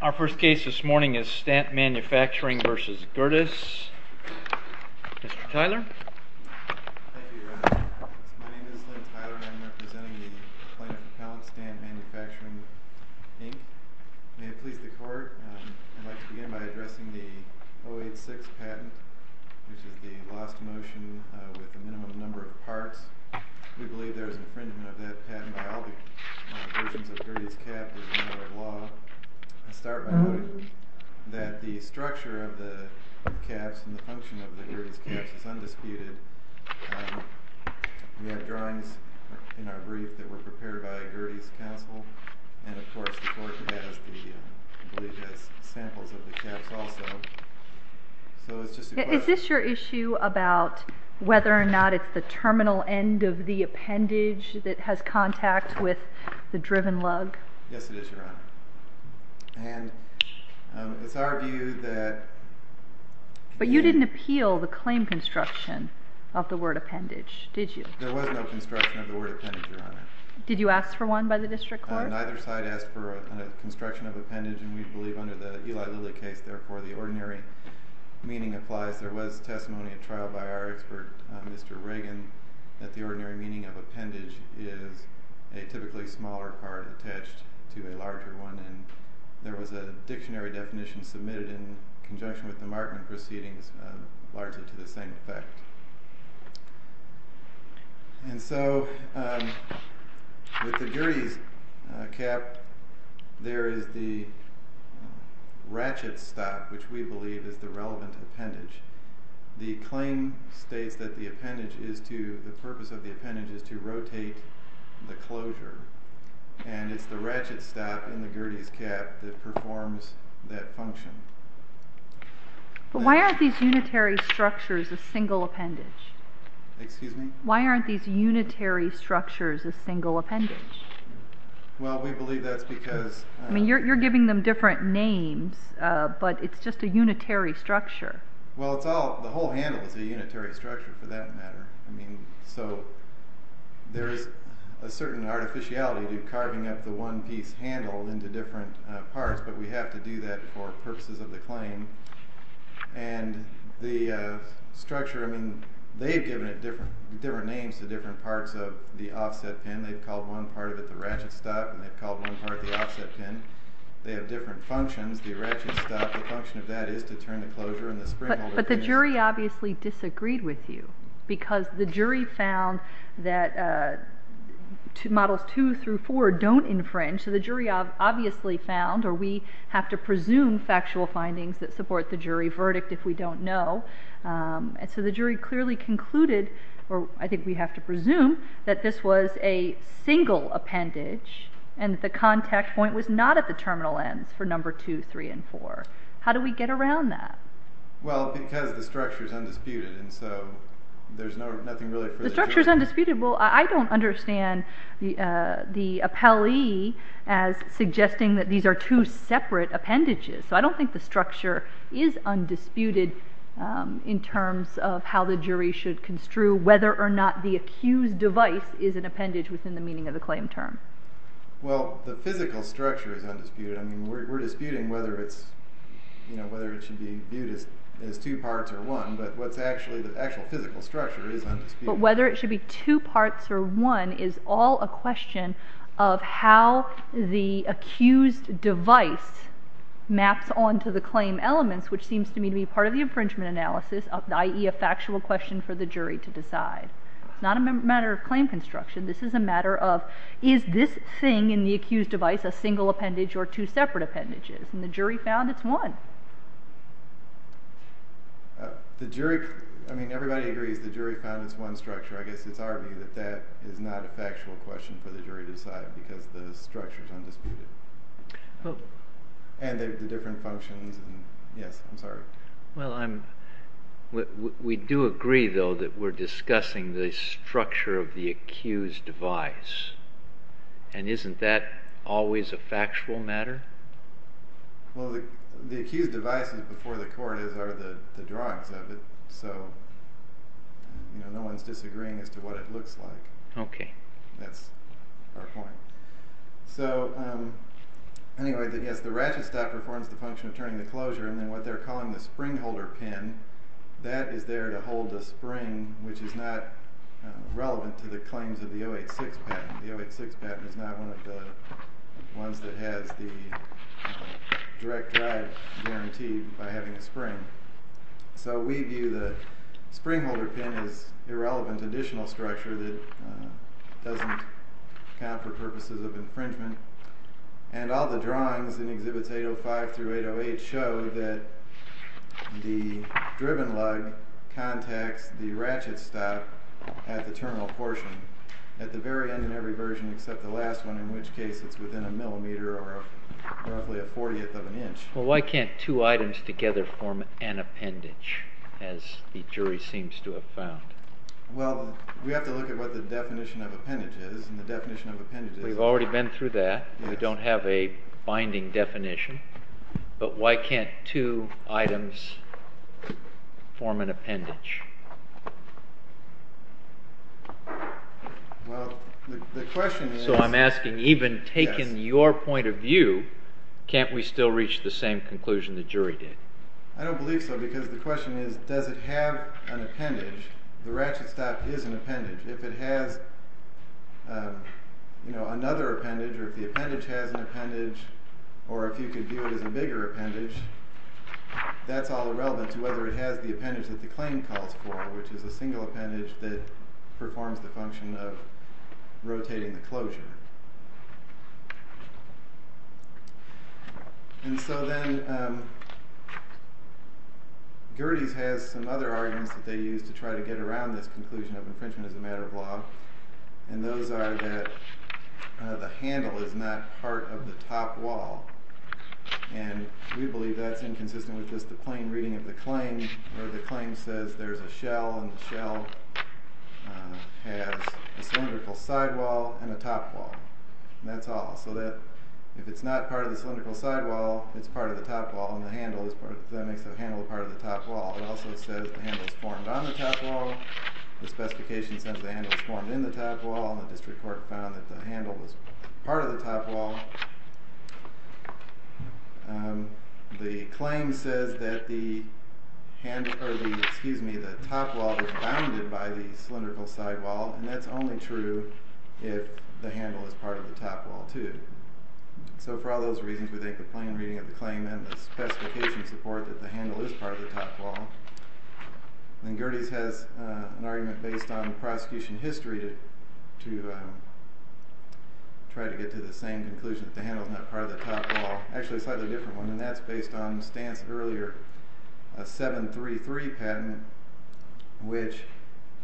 Our first case this morning is Stant Manufacturing v. Gerdes. Mr. Tyler. Thank you Your Honor. My name is Lynn Tyler and I am representing the plaintiff at Stant Manufacturing Inc. May it please the court, I'd like to begin by addressing the 086 patent, which is the lost motion with the minimum number of parts. We believe there is infringement of that patent by all versions of Gerdes Caps as a matter of law. I'll start by noting that the structure of the caps and the function of the Gerdes Caps is undisputed. We have drawings in our brief that were prepared by Gerdes Council and of course the court has samples of the caps also. Is this your issue about whether or not it's the terminal end of the appendage that has contact with the driven lug? Yes it is, Your Honor. And it's our view that... But you didn't appeal the claim construction of the word appendage, did you? There was no construction of the word appendage, Your Honor. Did you ask for one by the district court? Neither side asked for a construction of appendage and we believe under the Eli Lilly case therefore the ordinary meaning applies. There was testimony at trial by our expert, Mr. Reagan, that the ordinary meaning of appendage is a typically smaller part attached to a larger one. There was a dictionary definition submitted in conjunction with the Markman proceedings largely to the same effect. And so with the Gerdes Cap there is the ratchet stop which we believe is the relevant appendage. The claim states that the purpose of the appendage is to rotate the closure and it's the ratchet stop in the Gerdes Cap that performs that function. But why aren't these unitary structures a single appendage? Excuse me? Why aren't these unitary structures a single appendage? Well we believe that's because... I mean you're giving them different names but it's just a unitary structure. Well the whole handle is a unitary structure for that matter. So there is a certain artificiality to carving up the one piece handle into different parts but we have to do that for purposes of the claim. And the structure, I mean they've given it different names to different parts of the offset pin. They've called one part of it the ratchet stop and they've called one part the offset pin. They have different functions. The ratchet stop, the function of that is to turn the closure and the spring holder... Because the jury found that models two through four don't infringe. So the jury obviously found or we have to presume factual findings that support the jury verdict if we don't know. So the jury clearly concluded or I think we have to presume that this was a single appendage and the contact point was not at the terminal ends for number two, three and four. How do we get around that? Well because the structure is undisputed and so there's nothing really for the jury... The structure is undisputed? Well I don't understand the appellee as suggesting that these are two separate appendages. So I don't think the structure is undisputed in terms of how the jury should construe whether or not the accused device is an appendage within the meaning of the claim term. Well the physical structure is undisputed. I mean we're disputing whether it's you know whether it should be viewed as two parts or one but what's actually the actual physical structure is undisputed. But whether it should be two parts or one is all a question of how the accused device maps on to the claim elements which seems to me to be part of the infringement analysis i.e. a factual question for the jury to decide. It's not a matter of claim construction. This is a matter of is this thing in the accused device a single appendage or two separate appendages and the jury found it's one. The jury, I mean everybody agrees the jury found it's one structure. I guess it's our view that that is not a factual question for the jury to decide because the structure is undisputed. Well we do agree though that we're discussing the structure of the accused device and isn't that always a factual matter. Well the accused device before the court are the drawings of it so no one's disagreeing as to what it looks like. That's our point. So anyway yes the ratchet stop performs the function of turning the closure and then what they're calling the spring holder pin that is there to hold the spring which is not relevant to the claims of the 086 patent. The 086 patent is not one of the ones that has the direct drive guaranteed by having a spring. So we view the spring holder pin as irrelevant additional structure that doesn't count for purposes of infringement and all the drawings in exhibits 805 through 808 show that the driven lug contacts the ratchet stop at the terminal portion at the very end in every version except the last one in which case it's within a millimeter or roughly a 40th of an inch. Well why can't two items together form an appendage as the jury seems to have found? Well we have to look at what the definition of appendage is and the definition of appendage is... We've already been through that. We don't have a binding definition but why can't two items form an appendage? Well the question is... So I'm asking even taking your point of view can't we still reach the same conclusion the jury did? I don't believe so because the question is does it have an appendage? The ratchet stop is an appendage. If it has another appendage or if the appendage has an appendage or if you can view it as a bigger appendage that's all irrelevant to whether it has the appendage that the claim calls for which is a single appendage that performs the function of rotating the closure. And so then Gerdes has some other arguments that they use to try to get around this conclusion of infringement as a matter of law and those are that the handle is not part of the top wall and we believe that's inconsistent with just the plain reading of the claim where the claim says there's a shell and the shell has a cylindrical side wall and a top wall. That's all. So that if it's not part of the cylindrical side wall it's part of the top wall and the handle is part of the top wall. It also says the handle is formed on the top wall. The specification says the handle is formed in the top wall and the district court found that the handle was part of the top wall. The claim says that the top wall is bounded by the cylindrical side wall and that's only true if the handle is part of the top wall too. So for all those reasons we think the plain reading of the claim and the specification support that the handle is part of the top wall. Then Gerdes has an argument based on prosecution history to try to get to the same conclusion that the handle is not part of the top wall. Actually a slightly different one and that's based on Stantz's earlier 733 patent which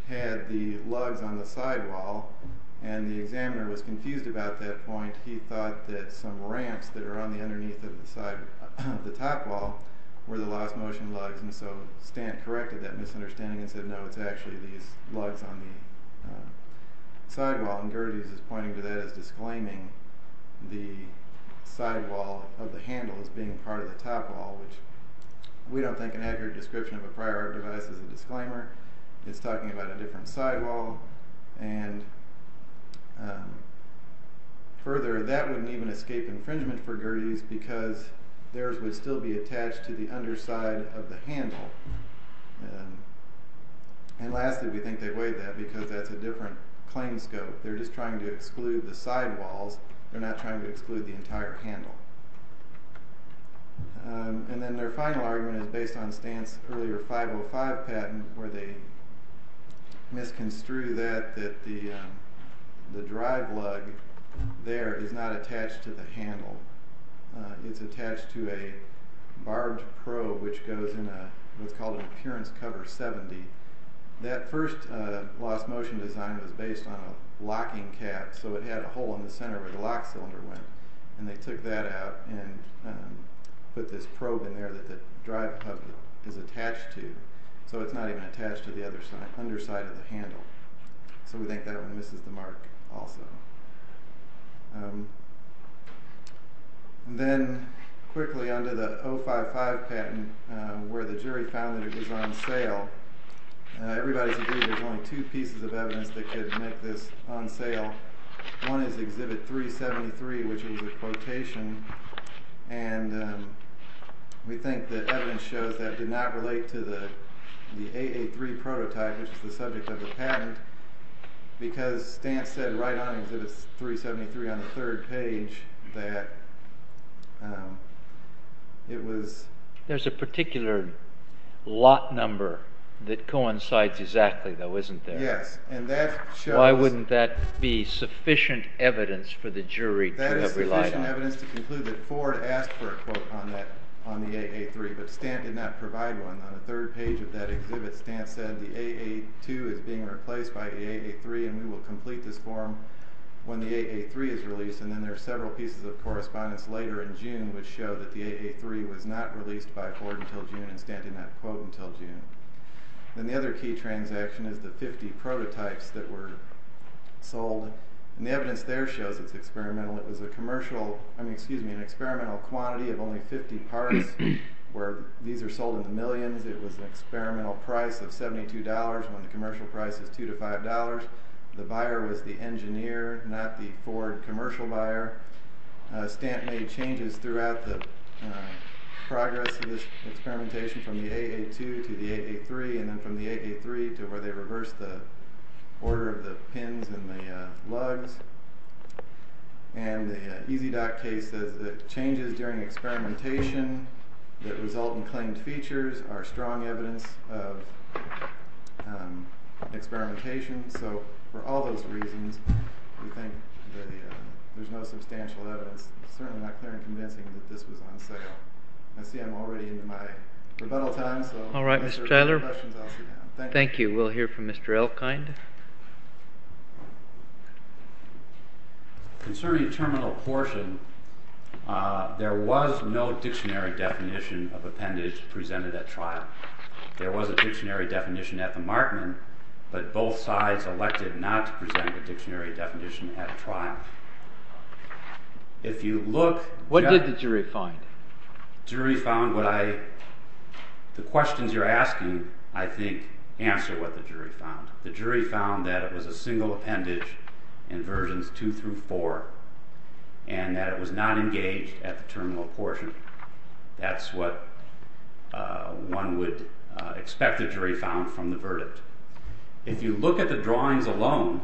had the lugs on the side wall and the examiner was confused about that point. He thought that some ramps that are on the underneath of the top wall were the lost motion lugs and so Stantz corrected that misunderstanding and said no it's actually these lugs on the side wall and Gerdes is pointing to that as disclaiming the side wall of the handle as being part of the top wall which we don't think an accurate description of a prior art device is a disclaimer. It's talking about a different side wall and further that wouldn't even escape infringement for Gerdes because theirs would still be attached to the underside of the handle. And lastly we think they weighed that because that's a different claim scope. They're just trying to exclude the side walls. They're not trying to exclude the entire handle. And then their final argument is based on Stantz's earlier 505 patent where they misconstrue that the drive lug there is not attached to the handle it's attached to a barbed probe which goes in what's called an appearance cover 70. That first lost motion design was based on a locking cap so it had a hole in the center where the lock cylinder went and they took that out and put this probe in there that the drive hub is attached to so it's not even attached to the underside of the handle. So we think that one misses the mark also. Then quickly under the 055 patent where the jury found that it was on sale everybody's agreed there's only two pieces of evidence that could make this on sale. One is exhibit 373 which is a quotation and we think that evidence shows that did not relate to the 883 prototype which is the subject of the patent because Stantz said right on exhibit 373 on the third page that it was... There's a particular lot number that coincides exactly though isn't there? Yes and that shows... Why wouldn't that be sufficient evidence for the jury to rely on? That is sufficient evidence to conclude that Ford asked for a quote on the 883 but Stantz did not provide one. On the third page of that exhibit Stantz said the 882 is being replaced by 883 and we will complete this form when the 883 is released and then there are several pieces of correspondence later in June which show that the 883 was not released by Ford until June and Stantz did not quote until June. Then the other key transaction is the 50 prototypes that were sold and the evidence there shows it's experimental. It was an experimental quantity of only 50 parts where these are sold in the millions. It was an experimental price of $72 when the commercial price is $2 to $5. The buyer was the engineer not the Ford commercial buyer. Stantz made changes throughout the progress of this experimentation from the 882 to the 883 and then from the 883 to where they reversed the order of the pins and the lugs. And the EZDOT case says that changes during experimentation that result in claimed features are strong evidence of experimentation. So for all those reasons we think that there's no substantial evidence. It's certainly not clear and convincing that this was on sale. I see I'm already into my rebuttal time so if there are no questions I'll sit down. Thank you. Thank you. We'll hear from Mr. Elkind. Concerning terminal portion, there was no dictionary definition of appendage presented at trial. There was a dictionary definition at the Markman but both sides elected not to present a dictionary definition at trial. If you look- What did the jury find? The jury found what I- The questions you're asking I think answer what the jury found. The jury found that it was a single appendage in versions 2 through 4 and that it was not engaged at the terminal portion. That's what one would expect the jury found from the verdict. If you look at the drawings alone,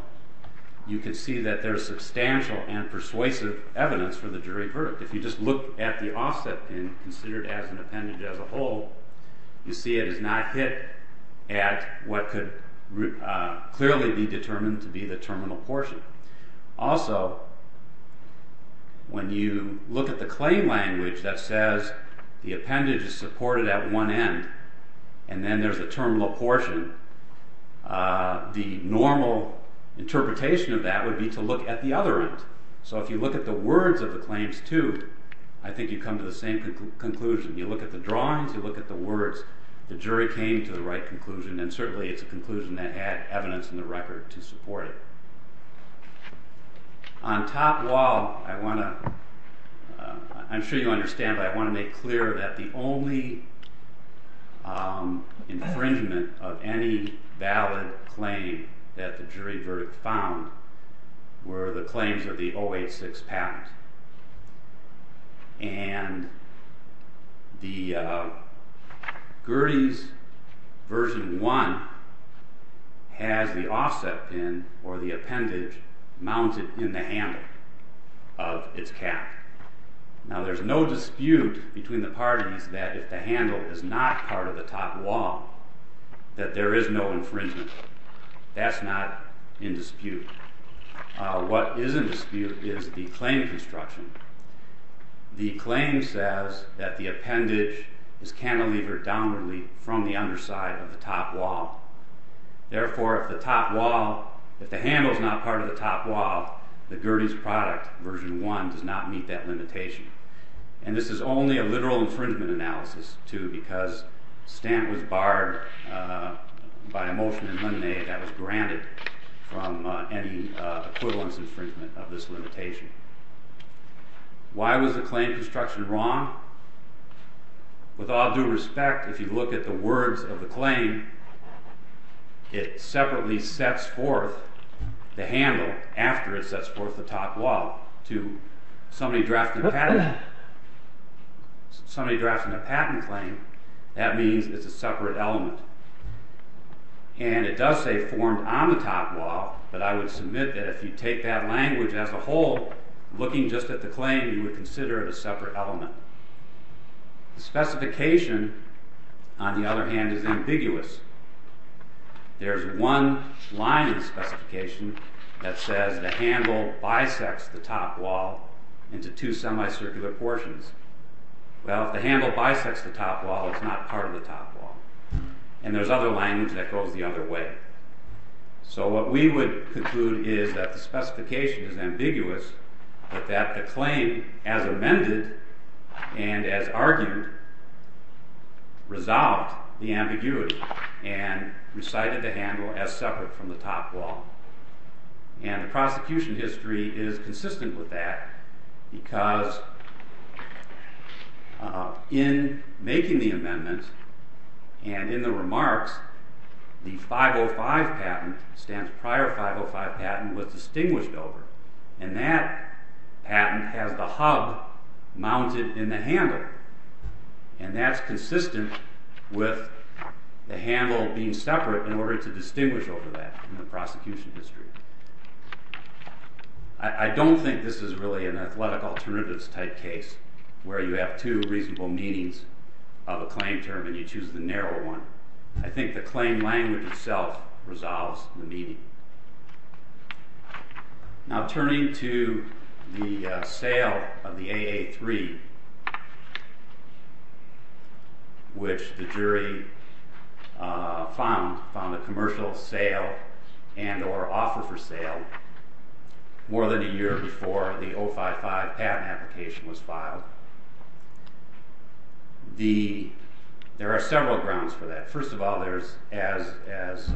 you can see that there's substantial and persuasive evidence for the jury verdict. If you just look at the offset and consider it as an appendage as a whole, you see it is not hit at what could clearly be determined to be the terminal portion. Also, when you look at the claim language that says the appendage is supported at one end and then there's a terminal portion, the normal interpretation of that would be to look at the other end. If you look at the words of the claims too, I think you come to the same conclusion. You look at the drawings, you look at the words, the jury came to the right conclusion and certainly it's a conclusion that had evidence in the record to support it. On top wall, I want to- I'm sure you understand, but I want to make clear that the only infringement of any valid claim that the jury verdict found were the claims of the 086 patent. And the Gerties version 1 has the offset pin or the appendage mounted in the handle of its cap. Now there's no dispute between the parties that if the handle is not part of the top wall that there is no infringement. That's not in dispute. What is in dispute is the claim construction. The claim says that the appendage is cantilevered downwardly from the underside of the top wall. Therefore, if the top wall- if the handle is not part of the top wall, the Gerties product version 1 does not meet that limitation. And this is only a literal infringement analysis too because Stant was barred by a motion in Lemonade that was granted from any equivalence infringement of this limitation. Why was the claim construction wrong? With all due respect, if you look at the words of the claim, it separately sets forth the handle after it sets forth the top wall. To somebody drafting a patent claim, that means it's a separate element. And it does say formed on the top wall, but I would submit that if you take that language as a whole, looking just at the claim, you would consider it a separate element. The specification, on the other hand, is ambiguous. There's one line in the specification that says the handle bisects the top wall into two semicircular portions. Well, if the handle bisects the top wall, it's not part of the top wall. And there's other language that goes the other way. So what we would conclude is that the specification is ambiguous, but that the claim, as amended and as argued, resolved the ambiguity and recited the handle as separate from the top wall. And the prosecution history is consistent with that because in making the amendment and in the remarks, the 505 patent, Stant's prior 505 patent, was distinguished over. And that patent has the hub mounted in the handle. And that's consistent with the handle being separate in order to distinguish over that in the prosecution history. I don't think this is really an athletic alternatives type case where you have two reasonable meanings of a claim term and you choose the narrower one. I think the claim language itself resolves the meaning. Now turning to the sale of the AA-3, which the jury found a commercial sale and or offer for sale more than a year before the 055 patent application was filed. There are several grounds for that. First of all, as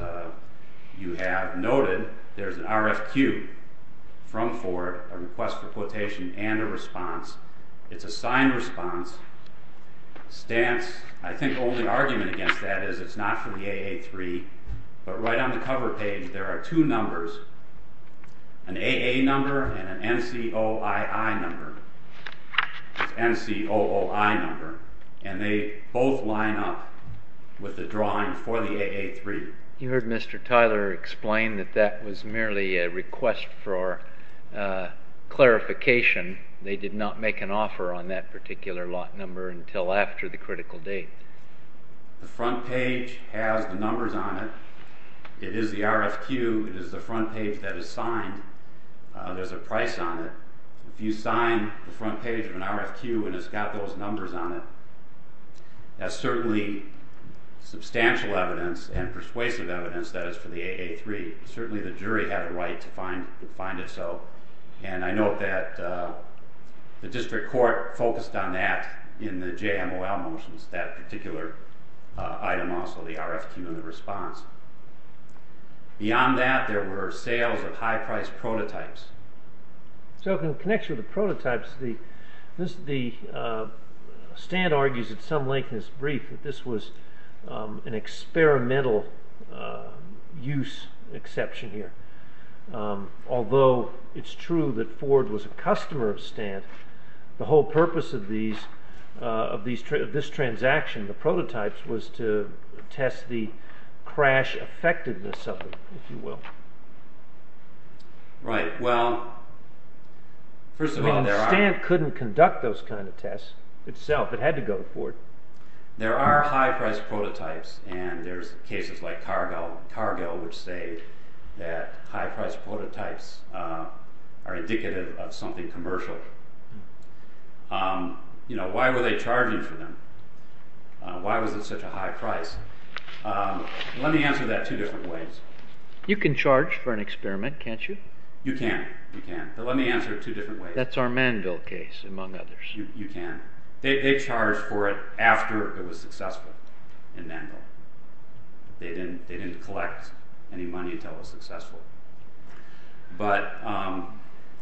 you have noted, there's an RFQ from Ford, a request for quotation and a response. It's a signed response. Stant's, I think, only argument against that is it's not for the AA-3. But right on the cover page, there are two numbers, an AA number and an NCOII number. It's N-C-O-O-I number. And they both line up with the drawing for the AA-3. You heard Mr. Tyler explain that that was merely a request for clarification. They did not make an offer on that particular lot number until after the critical date. The front page has the numbers on it. It is the RFQ. It is the front page that is signed. There's a price on it. If you sign the front page of an RFQ and it's got those numbers on it, that's certainly substantial evidence and persuasive evidence that it's for the AA-3. Certainly the jury had a right to find it so. And I note that the district court focused on that in the JMOL motions, that particular item also, the RFQ and the response. Beyond that, there were sales of high-priced prototypes. So in connection with the prototypes, the stand argues at some length in its brief that this was an experimental use exception here. Although it's true that Ford was a customer of Stand, the whole purpose of this transaction, the prototypes, was to test the crash effectiveness of it, if you will. Right. Well, first of all, there are... I mean, Stand couldn't conduct those kind of tests itself. It had to go to Ford. There are high-priced prototypes, and there's cases like Cargill which say that high-priced prototypes are indicative of something commercial. You know, why were they charging for them? Why was it such a high price? Let me answer that two different ways. You can charge for an experiment, can't you? You can, you can, but let me answer it two different ways. That's our Manville case, among others. You can. They charged for it after it was successful in Manville. They didn't collect any money until it was successful. But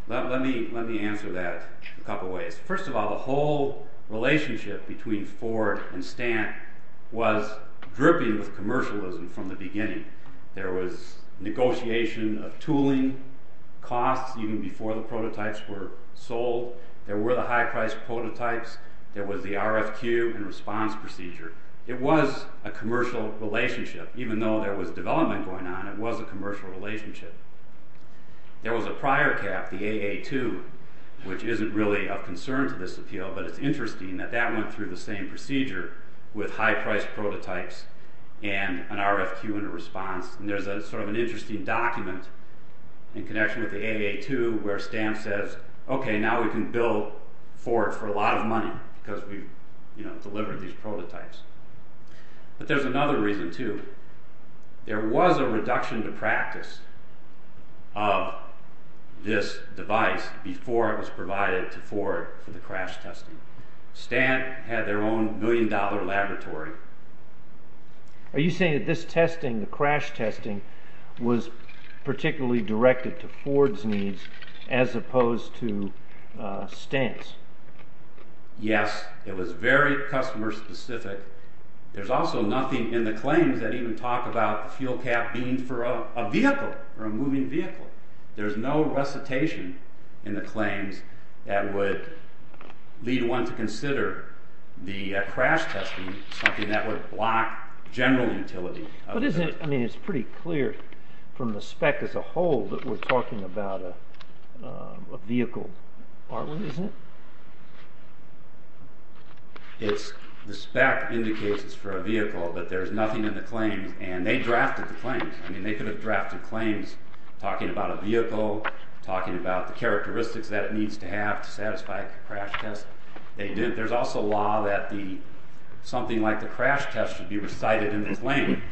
let me answer that a couple ways. First of all, the whole relationship between Ford and Stand was dripping with commercialism from the beginning. There was negotiation of tooling costs even before the prototypes were sold. There were the high-priced prototypes. There was the RFQ and response procedure. It was a commercial relationship. Even though there was development going on, it was a commercial relationship. There was a prior cap, the AA-2, which isn't really of concern to this appeal, but it's interesting that that went through the same procedure with high-priced prototypes and an RFQ and a response. And there's sort of an interesting document in connection with the AA-2 where Stand says, okay, now we can bill Ford for a lot of money because we've delivered these prototypes. But there's another reason, too. There was a reduction to practice of this device before it was provided to Ford for the crash testing. Stand had their own billion-dollar laboratory. Are you saying that this testing, the crash testing, was particularly directed to Ford's needs as opposed to Stand's? Yes, it was very customer-specific. There's also nothing in the claims that even talk about the fuel cap being for a vehicle or a moving vehicle. There's no recitation in the claims that would lead one to consider the crash testing something that would block general utility. But isn't it pretty clear from the spec as a whole that we're talking about a vehicle part, isn't it? The spec indicates it's for a vehicle, but there's nothing in the claims. And they drafted the claims. They could have drafted claims talking about a vehicle, talking about the characteristics that it needs to have to satisfy a crash test. There's also law that something like the crash test should be recited in the claim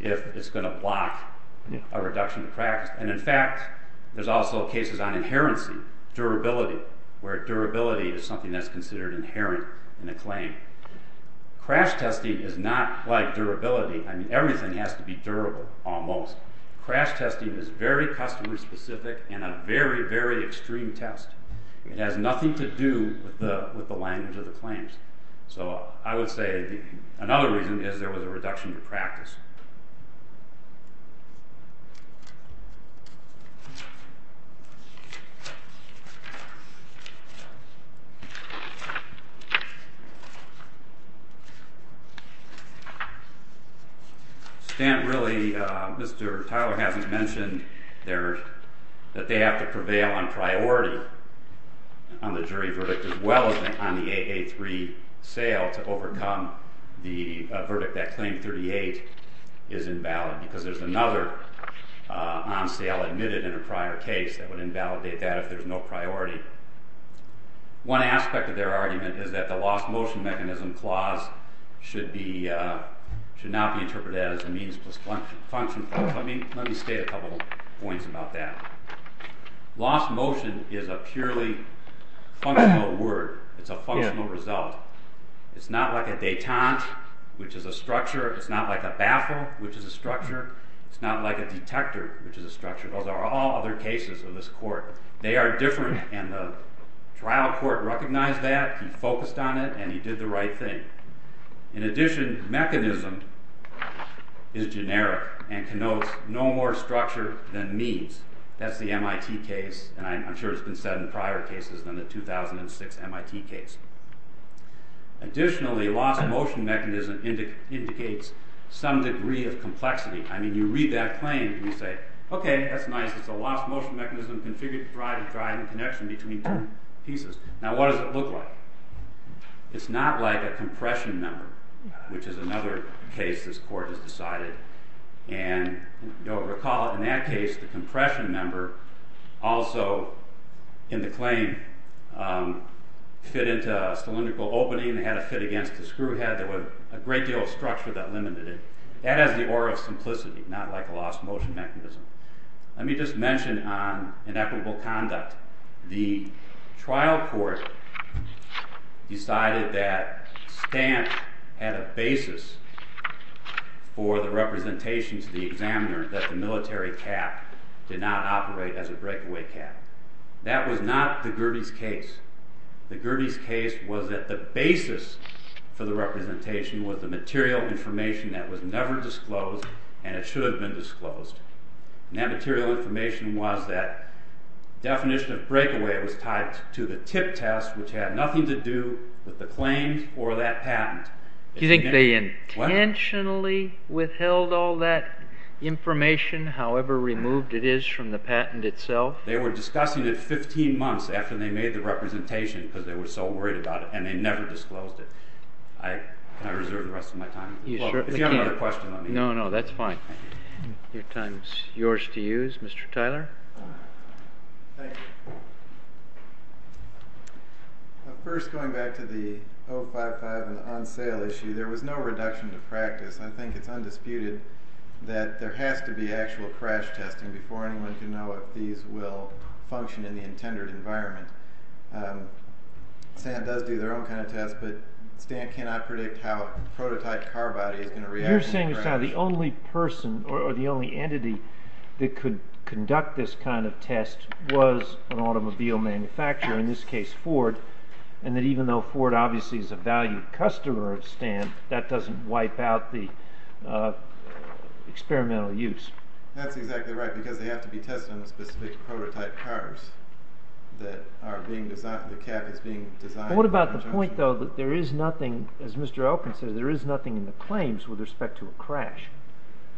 if it's going to block a reduction to practice. And in fact, there's also cases on inherency, durability, where durability is something that's considered inherent in a claim. Crash testing is not like durability. I mean, everything has to be durable, almost. Crash testing is very customer-specific and a very, very extreme test. It has nothing to do with the language of the claims. So I would say another reason is there was a reduction to practice. Stan, really, Mr. Tyler hasn't mentioned that they have to prevail on priority on the jury verdict as well as on the 8A3 sale to overcome the verdict that claim 38 is invalid because there's another on sale admitted in a prior case that would invalidate that if there's no priority. One aspect of their argument is that the lost motion mechanism clause should not be interpreted as a means plus function clause. Let me state a couple of points about that. Lost motion is a purely functional word. It's a functional result. It's not like a detente, which is a structure. It's not like a baffle, which is a structure. It's not like a detector, which is a structure. Those are all other cases in this court. They are different, and the trial court recognized that. He focused on it, and he did the right thing. In addition, mechanism is generic and connotes no more structure than means. That's the MIT case, and I'm sure it's been said in prior cases than the 2006 MIT case. Additionally, lost motion mechanism indicates some degree of complexity. I mean, you read that claim, and you say, okay, that's nice, it's a lost motion mechanism configured to provide a driving connection between two pieces. Now what does it look like? It's not like a compression member, which is another case this court has decided. Recall, in that case, the compression member also, in the claim, fit into a cylindrical opening. It had to fit against the screw head. There was a great deal of structure that limited it. That has the aura of simplicity, not like a lost motion mechanism. Let me just mention on inequitable conduct. The trial court decided that Stant had a basis for the representation to the examiner that the military cap did not operate as a breakaway cap. That was not the Gurdie's case. The Gurdie's case was that the basis for the representation was the material information that was never disclosed, and it should have been disclosed. That material information was that definition of breakaway was tied to the tip test, which had nothing to do with the claims or that patent. Do you think they intentionally withheld all that information, however removed it is from the patent itself? They were discussing it 15 months after they made the representation because they were so worried about it, and they never disclosed it. Can I reserve the rest of my time? If you have another question, let me know. No, no, that's fine. Your time is yours to use, Mr. Tyler. Thank you. First, going back to the 055 and the on-sale issue, there was no reduction to practice. I think it's undisputed that there has to be actual crash testing before anyone can know if these will function in the intended environment. Stant does do their own kind of test, but Stant cannot predict how a prototype car body is going to react. You're saying that Stant is the only person or the only entity that could conduct this kind of test was an automobile manufacturer, in this case Ford, and that even though Ford obviously is a valued customer of Stant, that doesn't wipe out the experimental use. That's exactly right because they have to be tested on specific prototype cars that are being designed, the cab is being designed. What about the point, though, that there is nothing, as Mr. Elkin said, there is nothing in the claims with respect to a crash?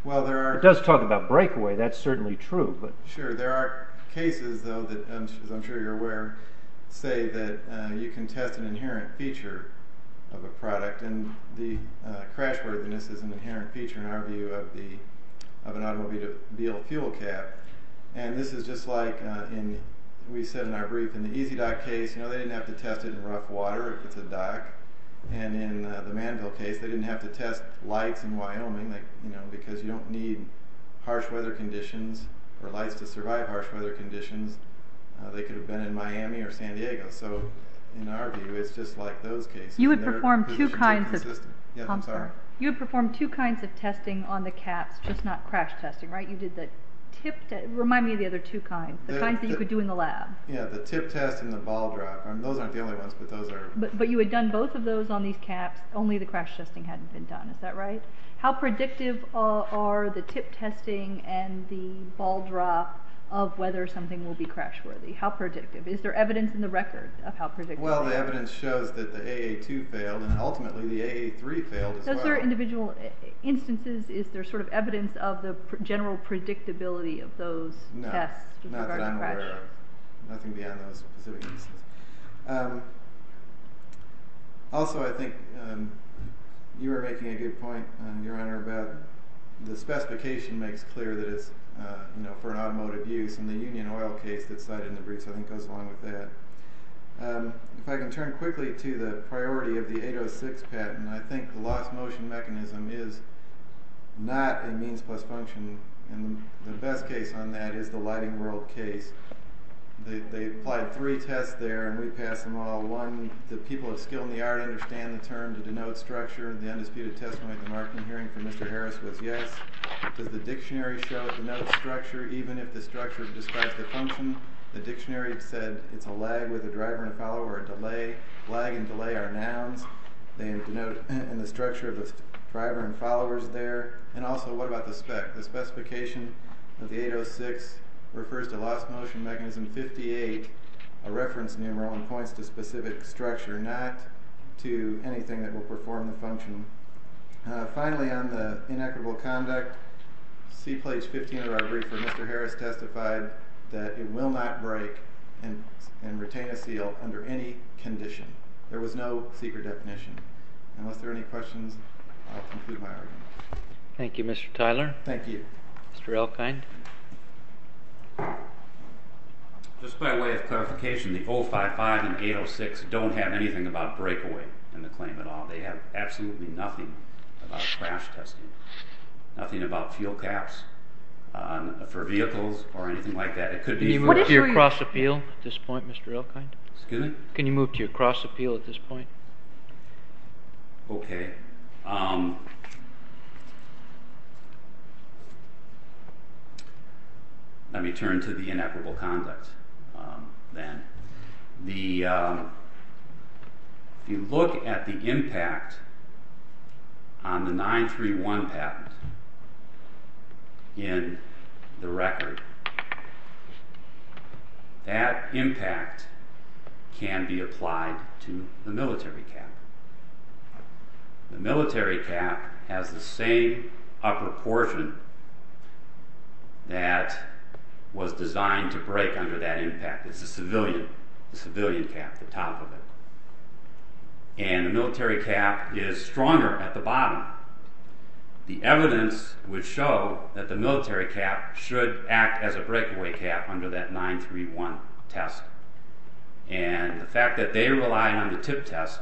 It does talk about breakaway, that's certainly true. Sure, there are cases, though, that, as I'm sure you're aware, say that you can test an inherent feature of a product, and the crash worthiness is an inherent feature, in our view, of an automobile fuel cap. This is just like we said in our brief, in the EasyDock case they didn't have to test it in rough water if it's a dock, and in the Manville case they didn't have to test lights in Wyoming, because you don't need harsh weather conditions, or lights to survive harsh weather conditions. They could have been in Miami or San Diego, so in our view it's just like those cases. You would perform two kinds of testing on the caps, just not crash testing, right? You did the tip test, remind me of the other two kinds, the kinds that you could do in the lab. Yeah, the tip test and the ball drop, those aren't the only ones. But you had done both of those on these caps, only the crash testing hadn't been done, is that right? How predictive are the tip testing and the ball drop of whether something will be crash worthy? How predictive? Is there evidence in the record of how predictive they are? Well, the evidence shows that the AA2 failed, and ultimately the AA3 failed as well. Those are individual instances, is there sort of evidence of the general predictability of those tests? No, not that I'm aware of. Nothing beyond those specific instances. Also, I think you were making a good point, Your Honor, about the specification makes clear that it's for an automotive use, and the Union Oil case that's cited in the briefs I think goes along with that. If I can turn quickly to the priority of the 806 patent, I think the lost motion mechanism is not a means plus function, and the best case on that is the Lighting World case. They applied three tests there, and we passed them all. One, the people of skill and the art understand the term to denote structure. The undisputed testimony at the marketing hearing for Mr. Harris was yes. Does the dictionary show it denotes structure, even if the structure describes the function? The dictionary said it's a lag with a driver and a follower, a delay. Lag and delay are nouns. They denote the structure of the driver and followers there. And also, what about the spec? The specification of the 806 refers to lost motion mechanism 58, a reference numeral, and points to specific structure, not to anything that will perform the function. Finally, on the inequitable conduct, C page 15 of our brief for Mr. Harris testified that it will not break and retain a seal under any condition. There was no secret definition. Unless there are any questions, I'll conclude my argument. Thank you, Mr. Tyler. Thank you. Mr. Elkind. Just by way of clarification, the 055 and 806 don't have anything about breakaway in the claim at all. They have absolutely nothing about crash testing, nothing about fuel caps for vehicles or anything like that. Can you move to your cross appeal at this point, Mr. Elkind? Excuse me? Can you move to your cross appeal at this point? Okay. Let me turn to the inequitable conduct then. If you look at the impact on the 931 patent in the record, that impact can be applied to the military cap. The military cap has the same upper portion that was designed to break under that impact. It's the civilian cap, the top of it. The evidence would show that the military cap should act as a breakaway cap under that 931 test. And the fact that they relied on the tip test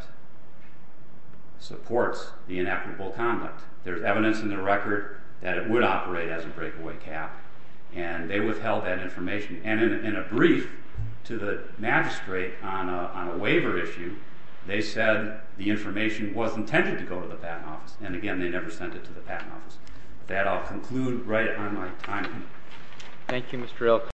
supports the inequitable conduct. There's evidence in the record that it would operate as a breakaway cap, and they withheld that information. And in a brief to the magistrate on a waiver issue, they said the information was intended to go to the patent office, and again, they never sent it to the patent office. That I'll conclude right on my time. Thank you, Mr. Elkind.